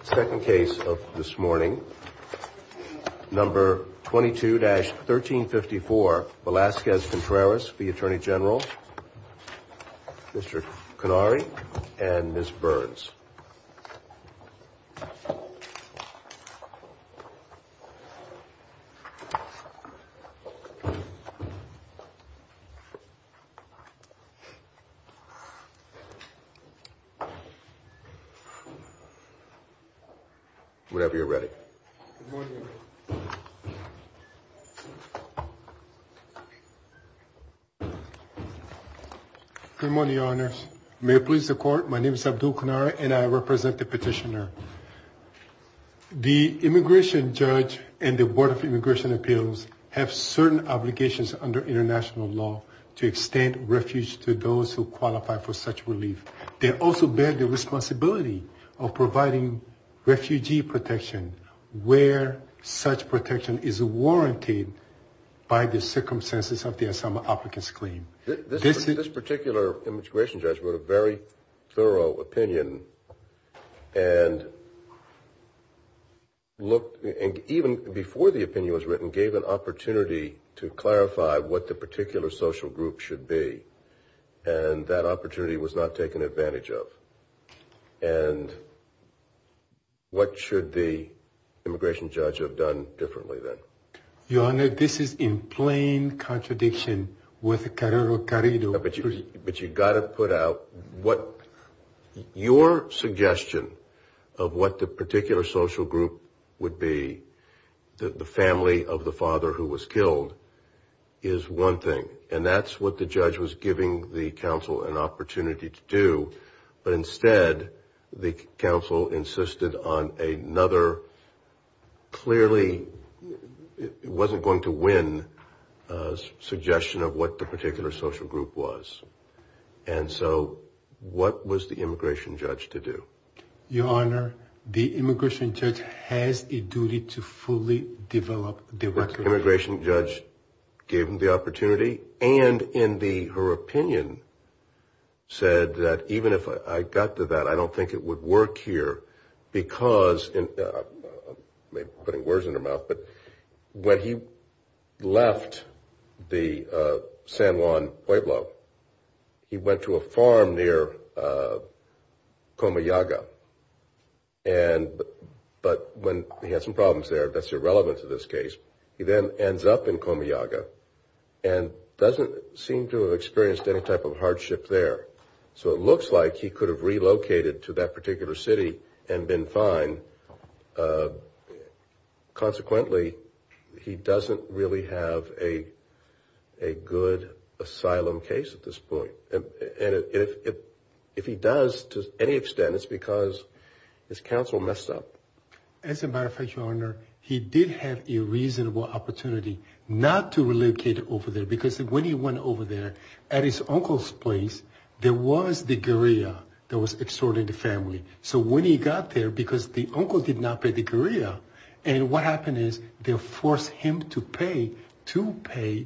The second case of this morning, number 22-1354, Velasquez-Contreras v. Attorney General, Mr. Canary and Ms. Burns. Whenever you're ready. Good morning, Your Honors. May it please the Court, my name is Abdul Canary and I represent the petitioner. The immigration judge and the Board of Immigration Appeals have certain obligations under international law to extend refuge to those who qualify for such relief. They also bear the responsibility of providing refugee protection where such protection is warranted by the circumstances of the asylum applicants claim. This particular immigration judge wrote a very thorough opinion and even before the opinion was written, gave an opportunity to clarify what the particular social group should be. And that opportunity was not taken advantage of. And what should the immigration judge have done differently then? Your Honor, this is in plain contradiction with Carrero Carrido. But you've got to put out what your suggestion of what the particular social group would be, the family of the father who was killed, is one thing. And that's what the judge was giving the counsel an opportunity to do. But instead, the counsel insisted on another, clearly, wasn't going to win, suggestion of what the particular social group was. And so, what was the immigration judge to do? Your Honor, the immigration judge has a duty to fully develop the record. The immigration judge gave him the opportunity and in her opinion, said that even if I got to that, I don't think it would work here. Because, putting words in her mouth, but when he left the San Juan Pueblo, he went to a farm near Comayaga. But when he had some problems there, that's irrelevant to this case, he then ends up in Comayaga and doesn't seem to have experienced any type of hardship there. So it looks like he could have relocated to that particular city and been fine. Consequently, he doesn't really have a good asylum case at this point. And if he does to any extent, it's because his counsel messed up. As a matter of fact, Your Honor, he did have a reasonable opportunity not to relocate over there. Because when he went over there, at his uncle's place, there was the guerrilla that was extorting the family. So when he got there, because the uncle did not pay the guerrilla, and what happened is they forced him to pay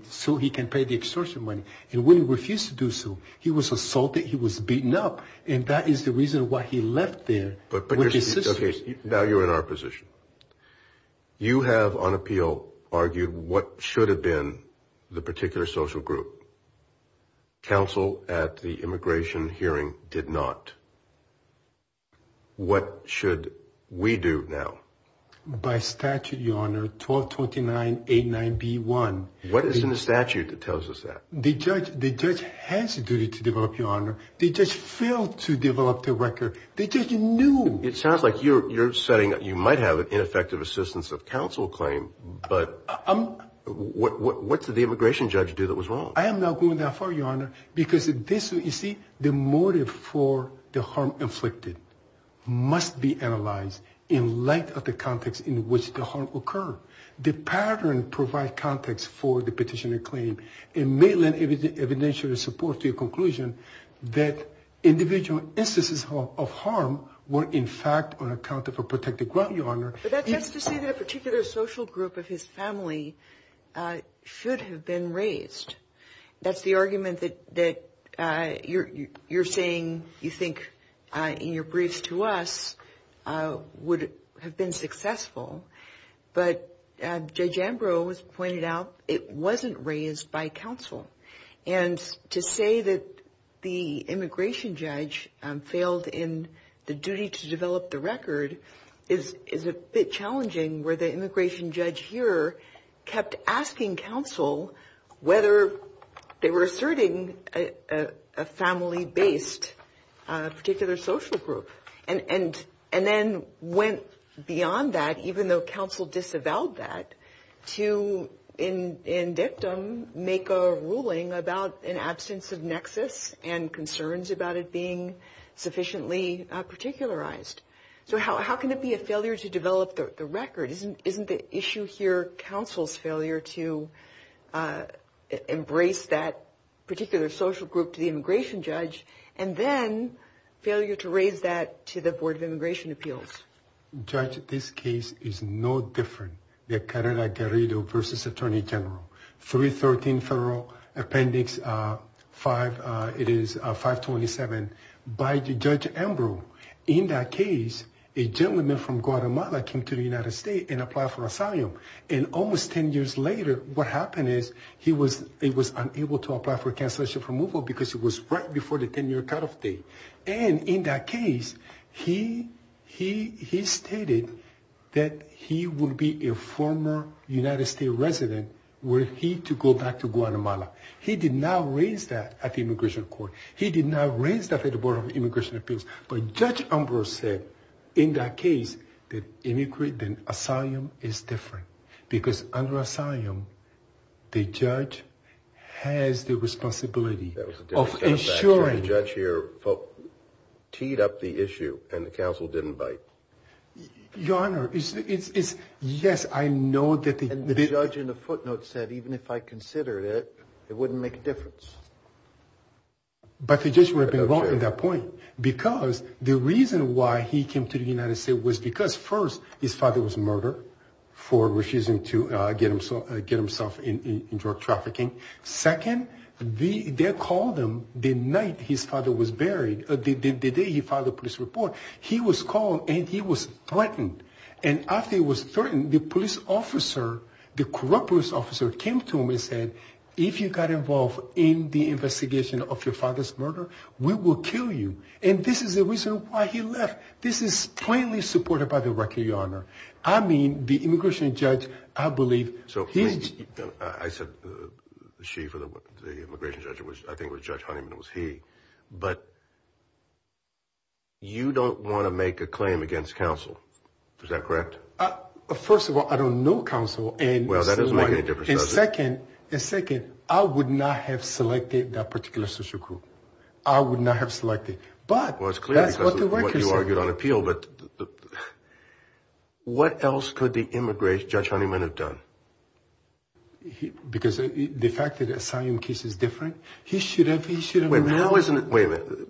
so he can pay the extortion money. And when he refused to do so, he was assaulted, he was beaten up. And that is the reason why he left there with his sisters. Now you're in our position. You have on appeal argued what should have been the particular social group. Counsel at the immigration hearing did not. What should we do now? By statute, Your Honor, 122989B1. What is in the statute that tells us that? The judge has a duty to develop, Your Honor. The judge failed to develop the record. The judge knew. It sounds like you're saying you might have an ineffective assistance of counsel claim, but what did the immigration judge do that was wrong? I am not going that far, Your Honor, because this, you see, the motive for the harm inflicted must be analyzed in light of the context in which the harm occurred. The pattern provides context for the petitioner claim. It may lend evidential support to your conclusion that individual instances of harm were, in fact, on account of a protected ground, Your Honor. But that's just to say that a particular social group of his family should have been raised. That's the argument that you're saying you think in your briefs to us would have been successful. But Judge Ambrose pointed out it wasn't raised by counsel. And to say that the immigration judge failed in the duty to develop the record is a bit challenging, where the immigration judge here kept asking counsel whether they were asserting a family-based particular social group and then went beyond that, even though counsel disavowed that, to in dictum make a ruling about an absence of nexus and concerns about it being sufficiently particularized. So how can it be a failure to develop the record? Isn't the issue here counsel's failure to embrace that particular social group to the immigration judge and then failure to raise that to the Board of Immigration Appeals? Judge, this case is no different than Carrera-Garrido v. Attorney General. 313 Federal Appendix 5, it is 527, by Judge Ambrose. In that case, a gentleman from Guatemala came to the United States and applied for asylum. And almost 10 years later, what happened is he was unable to apply for a cancellation of removal because it was right before the 10-year cutoff date. And in that case, he stated that he would be a former United States resident were he to go back to Guatemala. He did not raise that at the Immigration Court. He did not raise that at the Board of Immigration Appeals. But Judge Ambrose said, in that case, that immigrant and asylum is different because under asylum, the judge has the responsibility of ensuring. The judge teed up the issue and the counsel didn't bite. Your Honor, yes, I know that they did. And the judge in the footnote said, even if I consider it, it wouldn't make a difference. But the judge would have been wrong in that point because the reason why he came to the United States was because, first, his father was murdered for refusing to get himself in drug trafficking. Second, they called him the night his father was buried, the day he filed a police report. He was called and he was threatened. And after he was threatened, the police officer, the corrupt police officer, came to him and said, if you got involved in the investigation of your father's murder, we will kill you. And this is the reason why he left. This is plainly supported by the record, Your Honor. I mean, the immigration judge, I believe, he's… So, please, I said she for the immigration judge. I think it was Judge Honeyman, it was he. But you don't want to make a claim against counsel. Is that correct? First of all, I don't know counsel. Well, that doesn't make any difference, does it? And second, I would not have selected that particular social group. I would not have selected. But that's what the workers said. Well, it's clear because of what you argued on appeal. But what else could the immigration judge Honeyman have done? Because the fact that the asylum case is different, he should have… Wait a minute.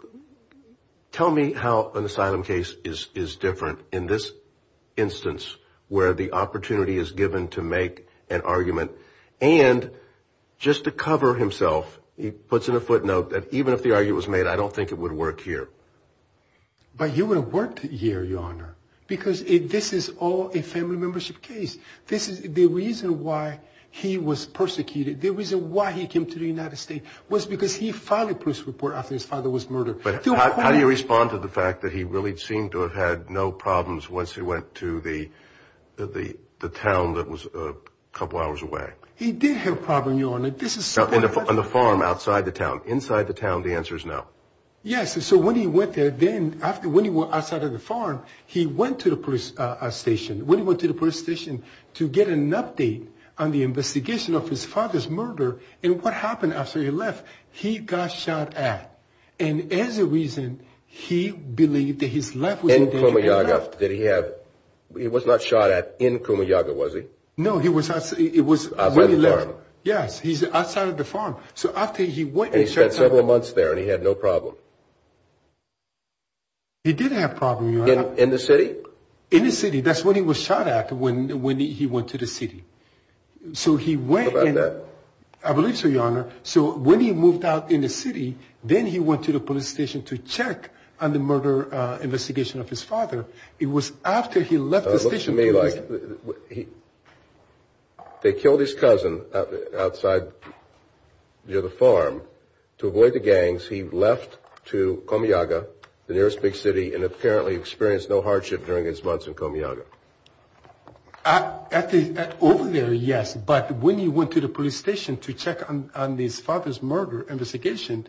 Tell me how an asylum case is different in this instance where the opportunity is given to make an argument. And just to cover himself, he puts in a footnote that even if the argument was made, I don't think it would work here. But it would have worked here, Your Honor, because this is all a family membership case. The reason why he was persecuted, the reason why he came to the United States, was because he filed a police report after his father was murdered. But how do you respond to the fact that he really seemed to have had no problems once he went to the town that was a couple hours away? He did have a problem, Your Honor. On the farm outside the town. Inside the town, the answer is no. Yes. So when he went there then, when he went outside of the farm, he went to the police station. When he went to the police station to get an update on the investigation of his father's murder and what happened after he left, he got shot at. And as a reason, he believed that his life was in danger and left. In Kumayaga, did he have – he was not shot at in Kumayaga, was he? No, he was – it was when he left. Outside the farm. Yes, he's outside of the farm. So after he went and shot – And he spent several months there and he had no problem. He did have a problem, Your Honor. In the city? In the city. That's when he was shot at, when he went to the city. So he went and – I believe so, Your Honor. So when he moved out in the city, then he went to the police station to check on the murder investigation of his father. It was after he left the station. It looks to me like they killed his cousin outside near the farm. To avoid the gangs, he left to Kumayaga, the nearest big city, and apparently experienced no hardship during his months in Kumayaga. Over there, yes. But when he went to the police station to check on his father's murder investigation,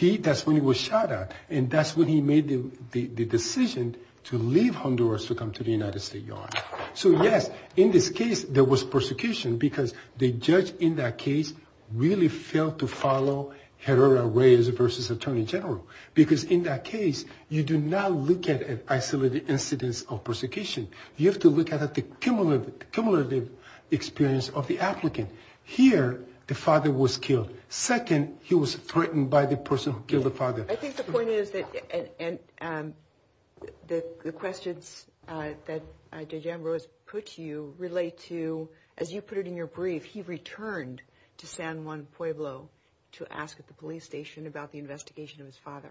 that's when he was shot at. And that's when he made the decision to leave Honduras to come to the United States, Your Honor. So, yes, in this case, there was persecution because the judge in that case really failed to follow Herrera Reyes v. Attorney General. Because in that case, you do not look at isolated incidents of persecution. You have to look at the cumulative experience of the applicant. Here, the father was killed. Second, he was threatened by the person who killed the father. I think the point is that the questions that Dajan Rose put to you relate to – as you put it in your brief, he returned to San Juan Pueblo to ask at the police station about the investigation of his father.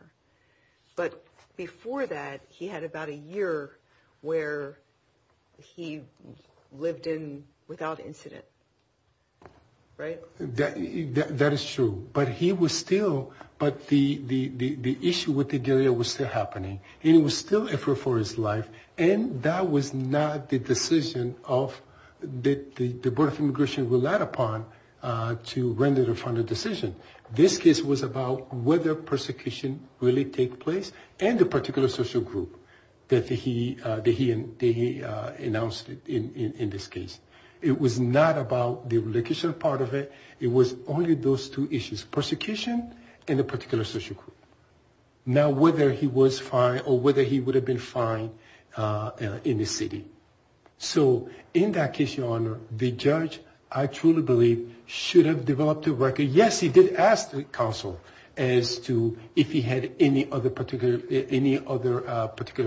But before that, he had about a year where he lived in without incident, right? That is true. But he was still – but the issue with the guerrilla was still happening. And it was still effort for his life. And that was not the decision that the Board of Immigration relied upon to render the final decision. This case was about whether persecution really takes place and the particular social group that he announced in this case. It was not about the location part of it. It was only those two issues, persecution and the particular social group. Now, whether he was fined or whether he would have been fined in the city. So, in that case, Your Honor, the judge, I truly believe, should have developed a record. Yes, he did ask the council as to if he had any other particular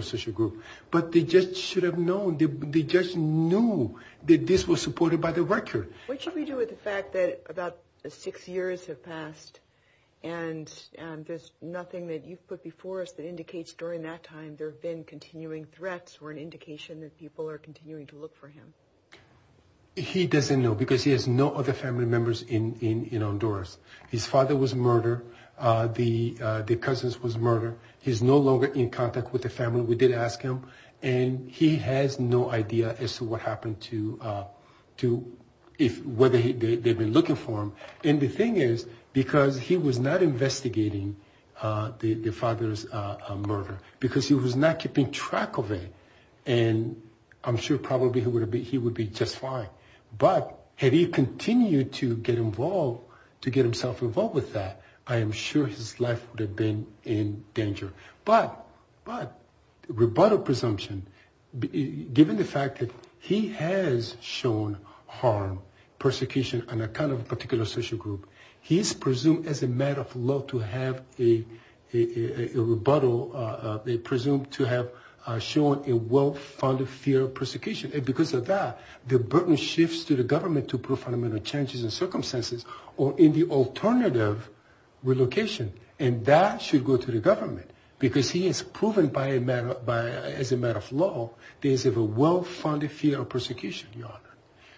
social group. But the judge should have known. The judge knew that this was supported by the record. What should we do with the fact that about six years have passed and there's nothing that you've put before us that indicates during that time there have been continuing threats or an indication that people are continuing to look for him? He doesn't know because he has no other family members in Honduras. His father was murdered. The cousins was murdered. He's no longer in contact with the family. We did ask him. And he has no idea as to what happened to whether they've been looking for him. And the thing is because he was not investigating the father's murder because he was not keeping track of it. And I'm sure probably he would be just fine. But had he continued to get involved, to get himself involved with that, I am sure his life would have been in danger. But rebuttal presumption, given the fact that he has shown harm, persecution on account of a particular social group, he is presumed as a man of law to have a rebuttal. They presume to have shown a well-founded fear of persecution. And because of that, the burden shifts to the government to prove fundamental changes in circumstances or in the alternative relocation. And that should go to the government because he is proven by a man, as a man of law, there is a well-founded fear of persecution, Your Honor.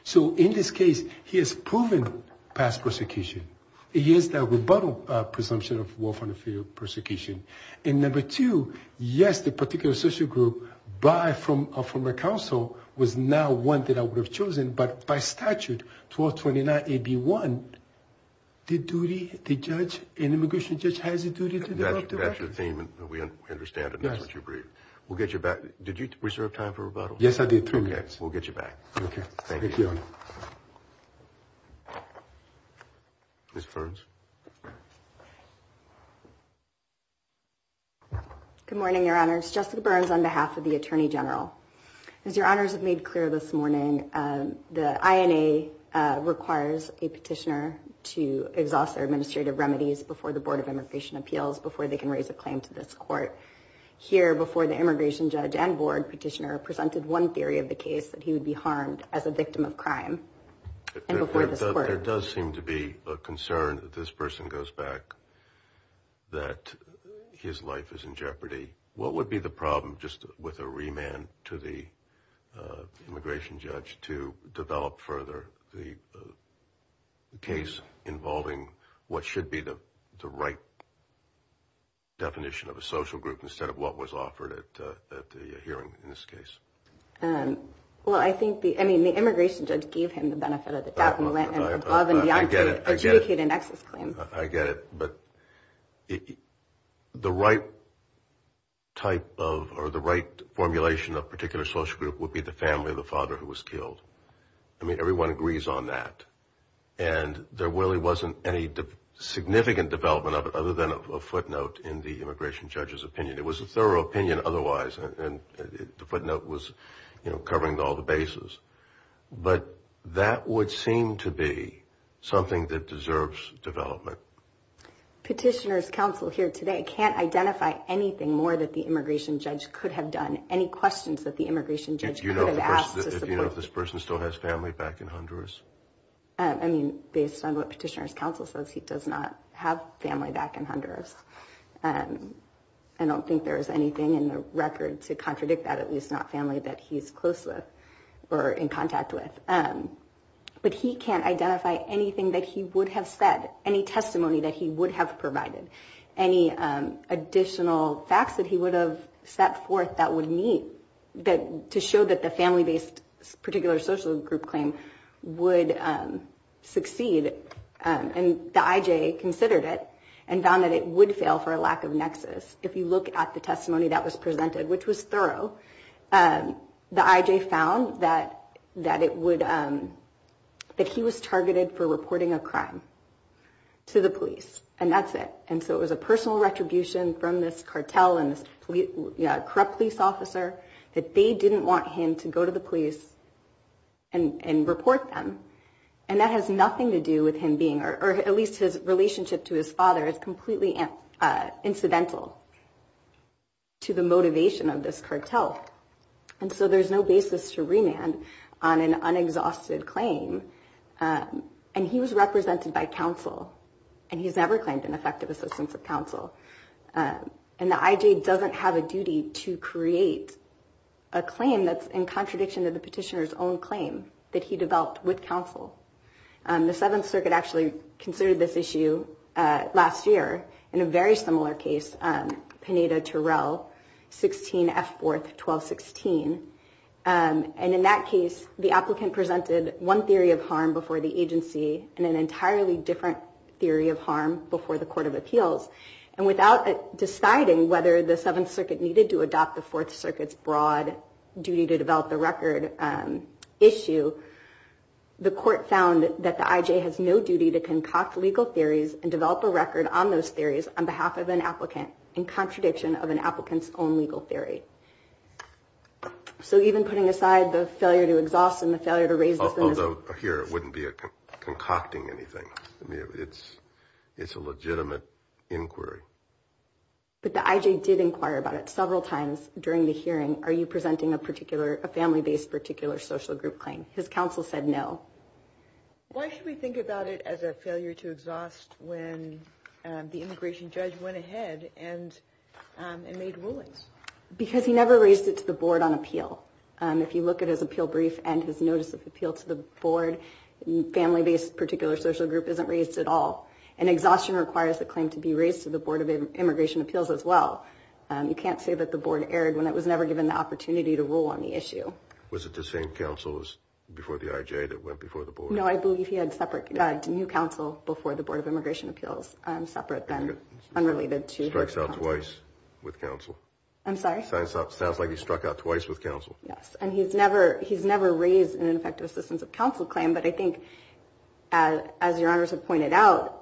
So in this case, he has proven past persecution. He has that rebuttal presumption of well-founded fear of persecution. And number two, yes, the particular social group by a former counsel was not one that I would have chosen. But by statute, 1229AB1, the duty, the judge, an immigration judge has a duty to develop the record. That's your theme. We understand it. That's what you agreed. We'll get you back. Did you reserve time for rebuttal? Yes, I did. We'll get you back. Thank you. Ms. Burns. Good morning, Your Honors. Jessica Burns on behalf of the Attorney General. As Your Honors have made clear this morning, the INA requires a petitioner to exhaust their administrative remedies before the Board of Immigration Appeals before they can raise a claim to this court. Here before the immigration judge and board petitioner presented one theory of the case that he would be harmed as a victim of crime. And before this court. There does seem to be a concern that this person goes back, that his life is in jeopardy. What would be the problem just with a remand to the immigration judge to develop further the case involving what should be the right definition of a social group instead of what was offered at the hearing in this case? Well, I think the immigration judge gave him the benefit of the doubt and went above and beyond to adjudicate an excess claim. I get it. But the right formulation of a particular social group would be the family of the father who was killed. I mean, everyone agrees on that. And there really wasn't any significant development of it other than a footnote in the immigration judge's opinion. It was a thorough opinion otherwise. And the footnote was covering all the bases. But that would seem to be something that deserves development. Petitioner's counsel here today can't identify anything more that the immigration judge could have done. Any questions that the immigration judge could have asked? Do you know if this person still has family back in Honduras? I mean, based on what petitioner's counsel says, he does not have family back in Honduras. I don't think there is anything in the record to contradict that, at least not family that he's close with or in contact with. But he can't identify anything that he would have said, any testimony that he would have provided, any additional facts that he would have set forth to show that the family-based particular social group claim would succeed. And the IJ considered it and found that it would fail for a lack of nexus. If you look at the testimony that was presented, which was thorough, the IJ found that he was targeted for reporting a crime to the police. And that's it. And so it was a personal retribution from this cartel and this corrupt police officer that they didn't want him to go to the police and report them. And that has nothing to do with him being, or at least his relationship to his father is completely incidental to the motivation of this cartel. And so there's no basis to remand on an unexhausted claim. And he was represented by counsel, and he's never claimed an effective assistance of counsel. And the IJ doesn't have a duty to create a claim that's in contradiction to the petitioner's own claim that he developed with counsel. The Seventh Circuit actually considered this issue last year in a very similar case, Pineda-Turell, 16 F. 4th, 1216. And in that case, the applicant presented one theory of harm before the agency and an entirely different theory of harm before the court of appeals. And without deciding whether the Seventh Circuit needed to adopt the Fourth Circuit's broad duty to develop the record issue, the court found that the IJ has no duty to concoct legal theories and develop a record on those theories on behalf of an applicant in contradiction of an applicant's own legal theory. So even putting aside the failure to exhaust and the failure to raise this in this case. Although here it wouldn't be a concocting anything. I mean, it's a legitimate inquiry. But the IJ did inquire about it several times during the hearing. Are you presenting a particular, a family-based particular social group claim? His counsel said no. Why should we think about it as a failure to exhaust when the immigration judge went ahead and made rulings? Because he never raised it to the board on appeal. If you look at his appeal brief and his notice of appeal to the board, family-based particular social group isn't raised at all. And exhaustion requires the claim to be raised to the Board of Immigration Appeals as well. You can't say that the board erred when it was never given the opportunity to rule on the issue. Was it the same counsel before the IJ that went before the board? No, I believe he had separate, new counsel before the Board of Immigration Appeals. Separate then, unrelated to his counsel. Strikes out twice with counsel. I'm sorry? Sounds like he struck out twice with counsel. Yes. And he's never raised an effective assistance of counsel claim. But I think as your honors have pointed out,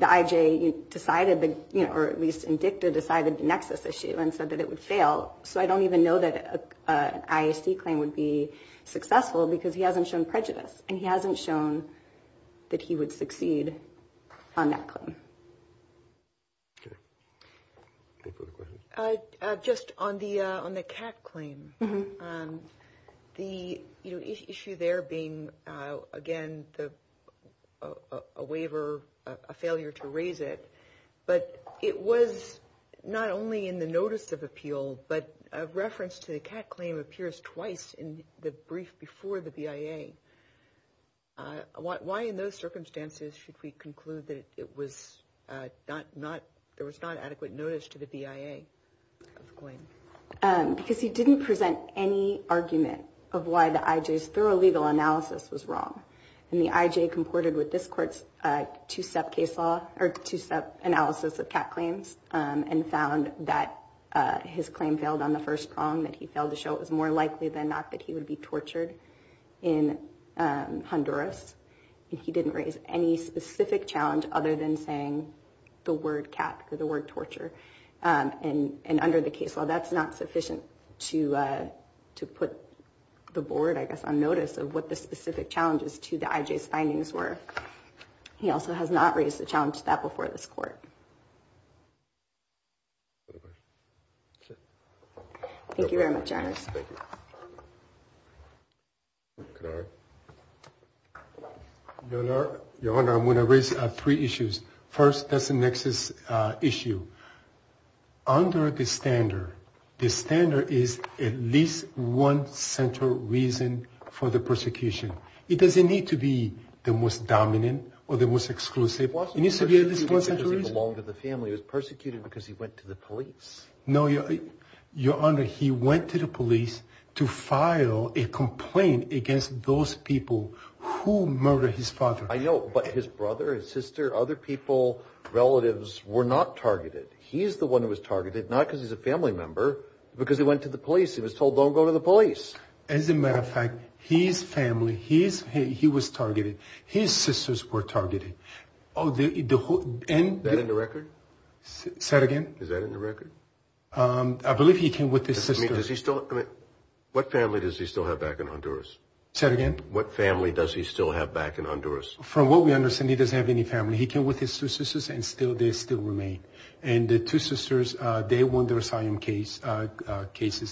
the IJ decided, or at least in dicta decided the nexus issue and said that it would fail. So I don't even know that an IAC claim would be successful because he hasn't shown prejudice. And he hasn't shown that he would succeed on that claim. Okay. Any further questions? Just on the CAT claim, the issue there being, again, a waiver, a failure to raise it. But it was not only in the notice of appeal, but a reference to the CAT claim appears twice in the brief before the BIA. Why in those circumstances should we conclude that there was not adequate notice to the BIA? Because he didn't present any argument of why the IJ's thorough legal analysis was wrong. And the IJ comported with this court's two-step case law or two-step analysis of CAT claims and found that his claim failed on the first prong, that he failed to show it was more likely than not that he would be tortured in Honduras. And he didn't raise any specific challenge other than saying the word CAT or the word torture. And under the case law, that's not sufficient to put the board, I guess, on notice of what the specific challenges to the IJ's findings were. He also has not raised the challenge to that before this court. Thank you very much, Your Honors. Your Honor, I'm going to raise three issues. First, that's the nexus issue. Under the standard, the standard is at least one central reason for the persecution. It doesn't need to be the most dominant or the most exclusive. It needs to be at least one central reason. He belonged to the family. He was persecuted because he went to the police. No, Your Honor, he went to the police to file a complaint against those people who murdered his father. I know, but his brother, his sister, other people, relatives, were not targeted. He's the one who was targeted, not because he's a family member, but because he went to the police. He was told, don't go to the police. As a matter of fact, his family, he was targeted. His sisters were targeted. Oh, the whole – Is that in the record? Say it again. Is that in the record? I believe he came with his sister. Does he still – I mean, what family does he still have back in Honduras? Say it again. What family does he still have back in Honduras? From what we understand, he doesn't have any family. He came with his two sisters, and they still remain. And the two sisters, they won their asylum cases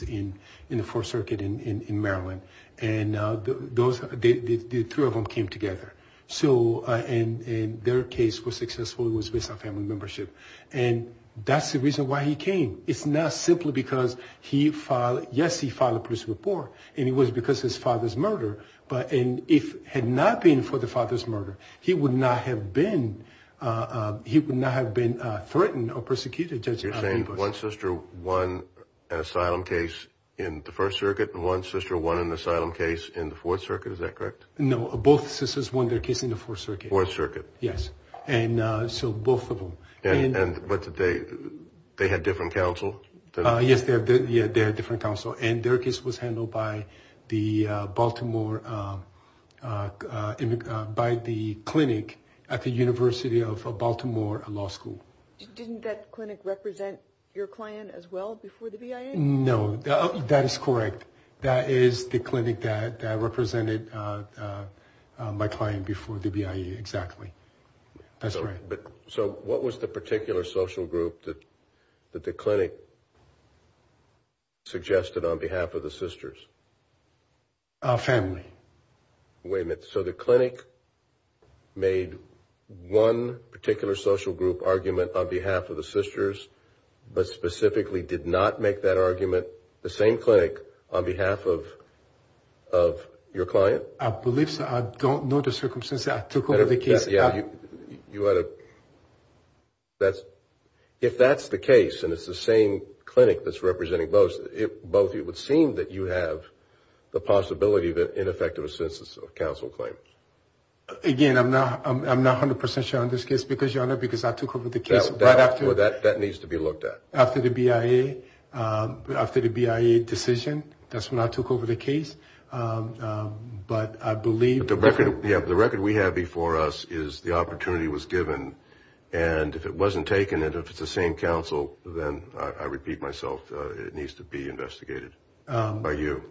in the Fourth Circuit in Maryland. And the three of them came together. And their case was successful. It was based on family membership. And that's the reason why he came. It's not simply because he filed – yes, he filed a police report. And it was because of his father's murder. But if it had not been for the father's murder, he would not have been threatened or persecuted. You're saying one sister won an asylum case in the First Circuit and one sister won an asylum case in the Fourth Circuit. Is that correct? No, both sisters won their case in the Fourth Circuit. Fourth Circuit. Yes. And so both of them. And what did they – they had different counsel? Yes, they had different counsel. And their case was handled by the Baltimore – by the clinic at the University of Baltimore Law School. Didn't that clinic represent your client as well before the BIA? No, that is correct. That is the clinic that represented my client before the BIA, exactly. That's right. So what was the particular social group that the clinic suggested on behalf of the sisters? Family. Wait a minute. So the clinic made one particular social group argument on behalf of the sisters but specifically did not make that argument, the same clinic, on behalf of your client? I believe so. I don't know the circumstances. I took over the case. You had a – if that's the case and it's the same clinic that's representing both, it would seem that you have the possibility of ineffective assistance of counsel claims. Again, I'm not 100 percent sure on this case because, Your Honor, because I took over the case right after – That needs to be looked at. After the BIA decision, that's when I took over the case. But I believe – The record we have before us is the opportunity was given, and if it wasn't taken and if it's the same counsel, then I repeat myself, it needs to be investigated by you.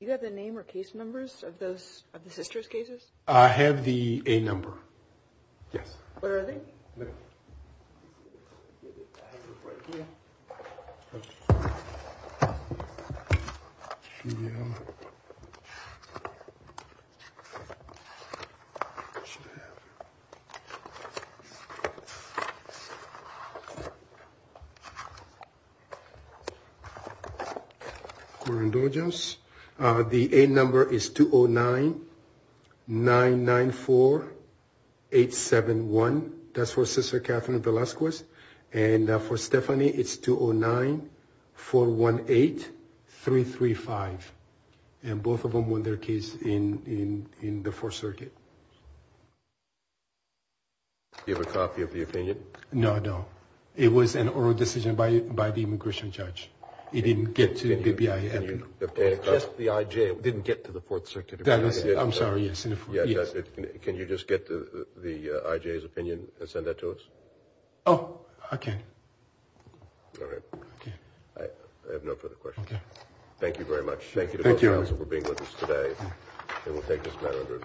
Do you have the name or case numbers of the sisters' cases? I have the A number. Yes. Where are they? Let me get it. I have it right here. Okay. The A number is 209-994-871. That's for Sister Catherine Velasquez. And for Stephanie, it's 209-418-335. And both of them won their case in the Fourth Circuit. Do you have a copy of the opinion? No, I don't. It was an oral decision by the immigration judge. It didn't get to the BIA. Just the IJ didn't get to the Fourth Circuit. I'm sorry. Yes. Can you just get the IJ's opinion and send that to us? Oh, I can. All right. Okay. I have no further questions. Okay. Thank you very much. Thank you. Thank you. Thank you to both counsel for being with us today. And we'll take this matter under review.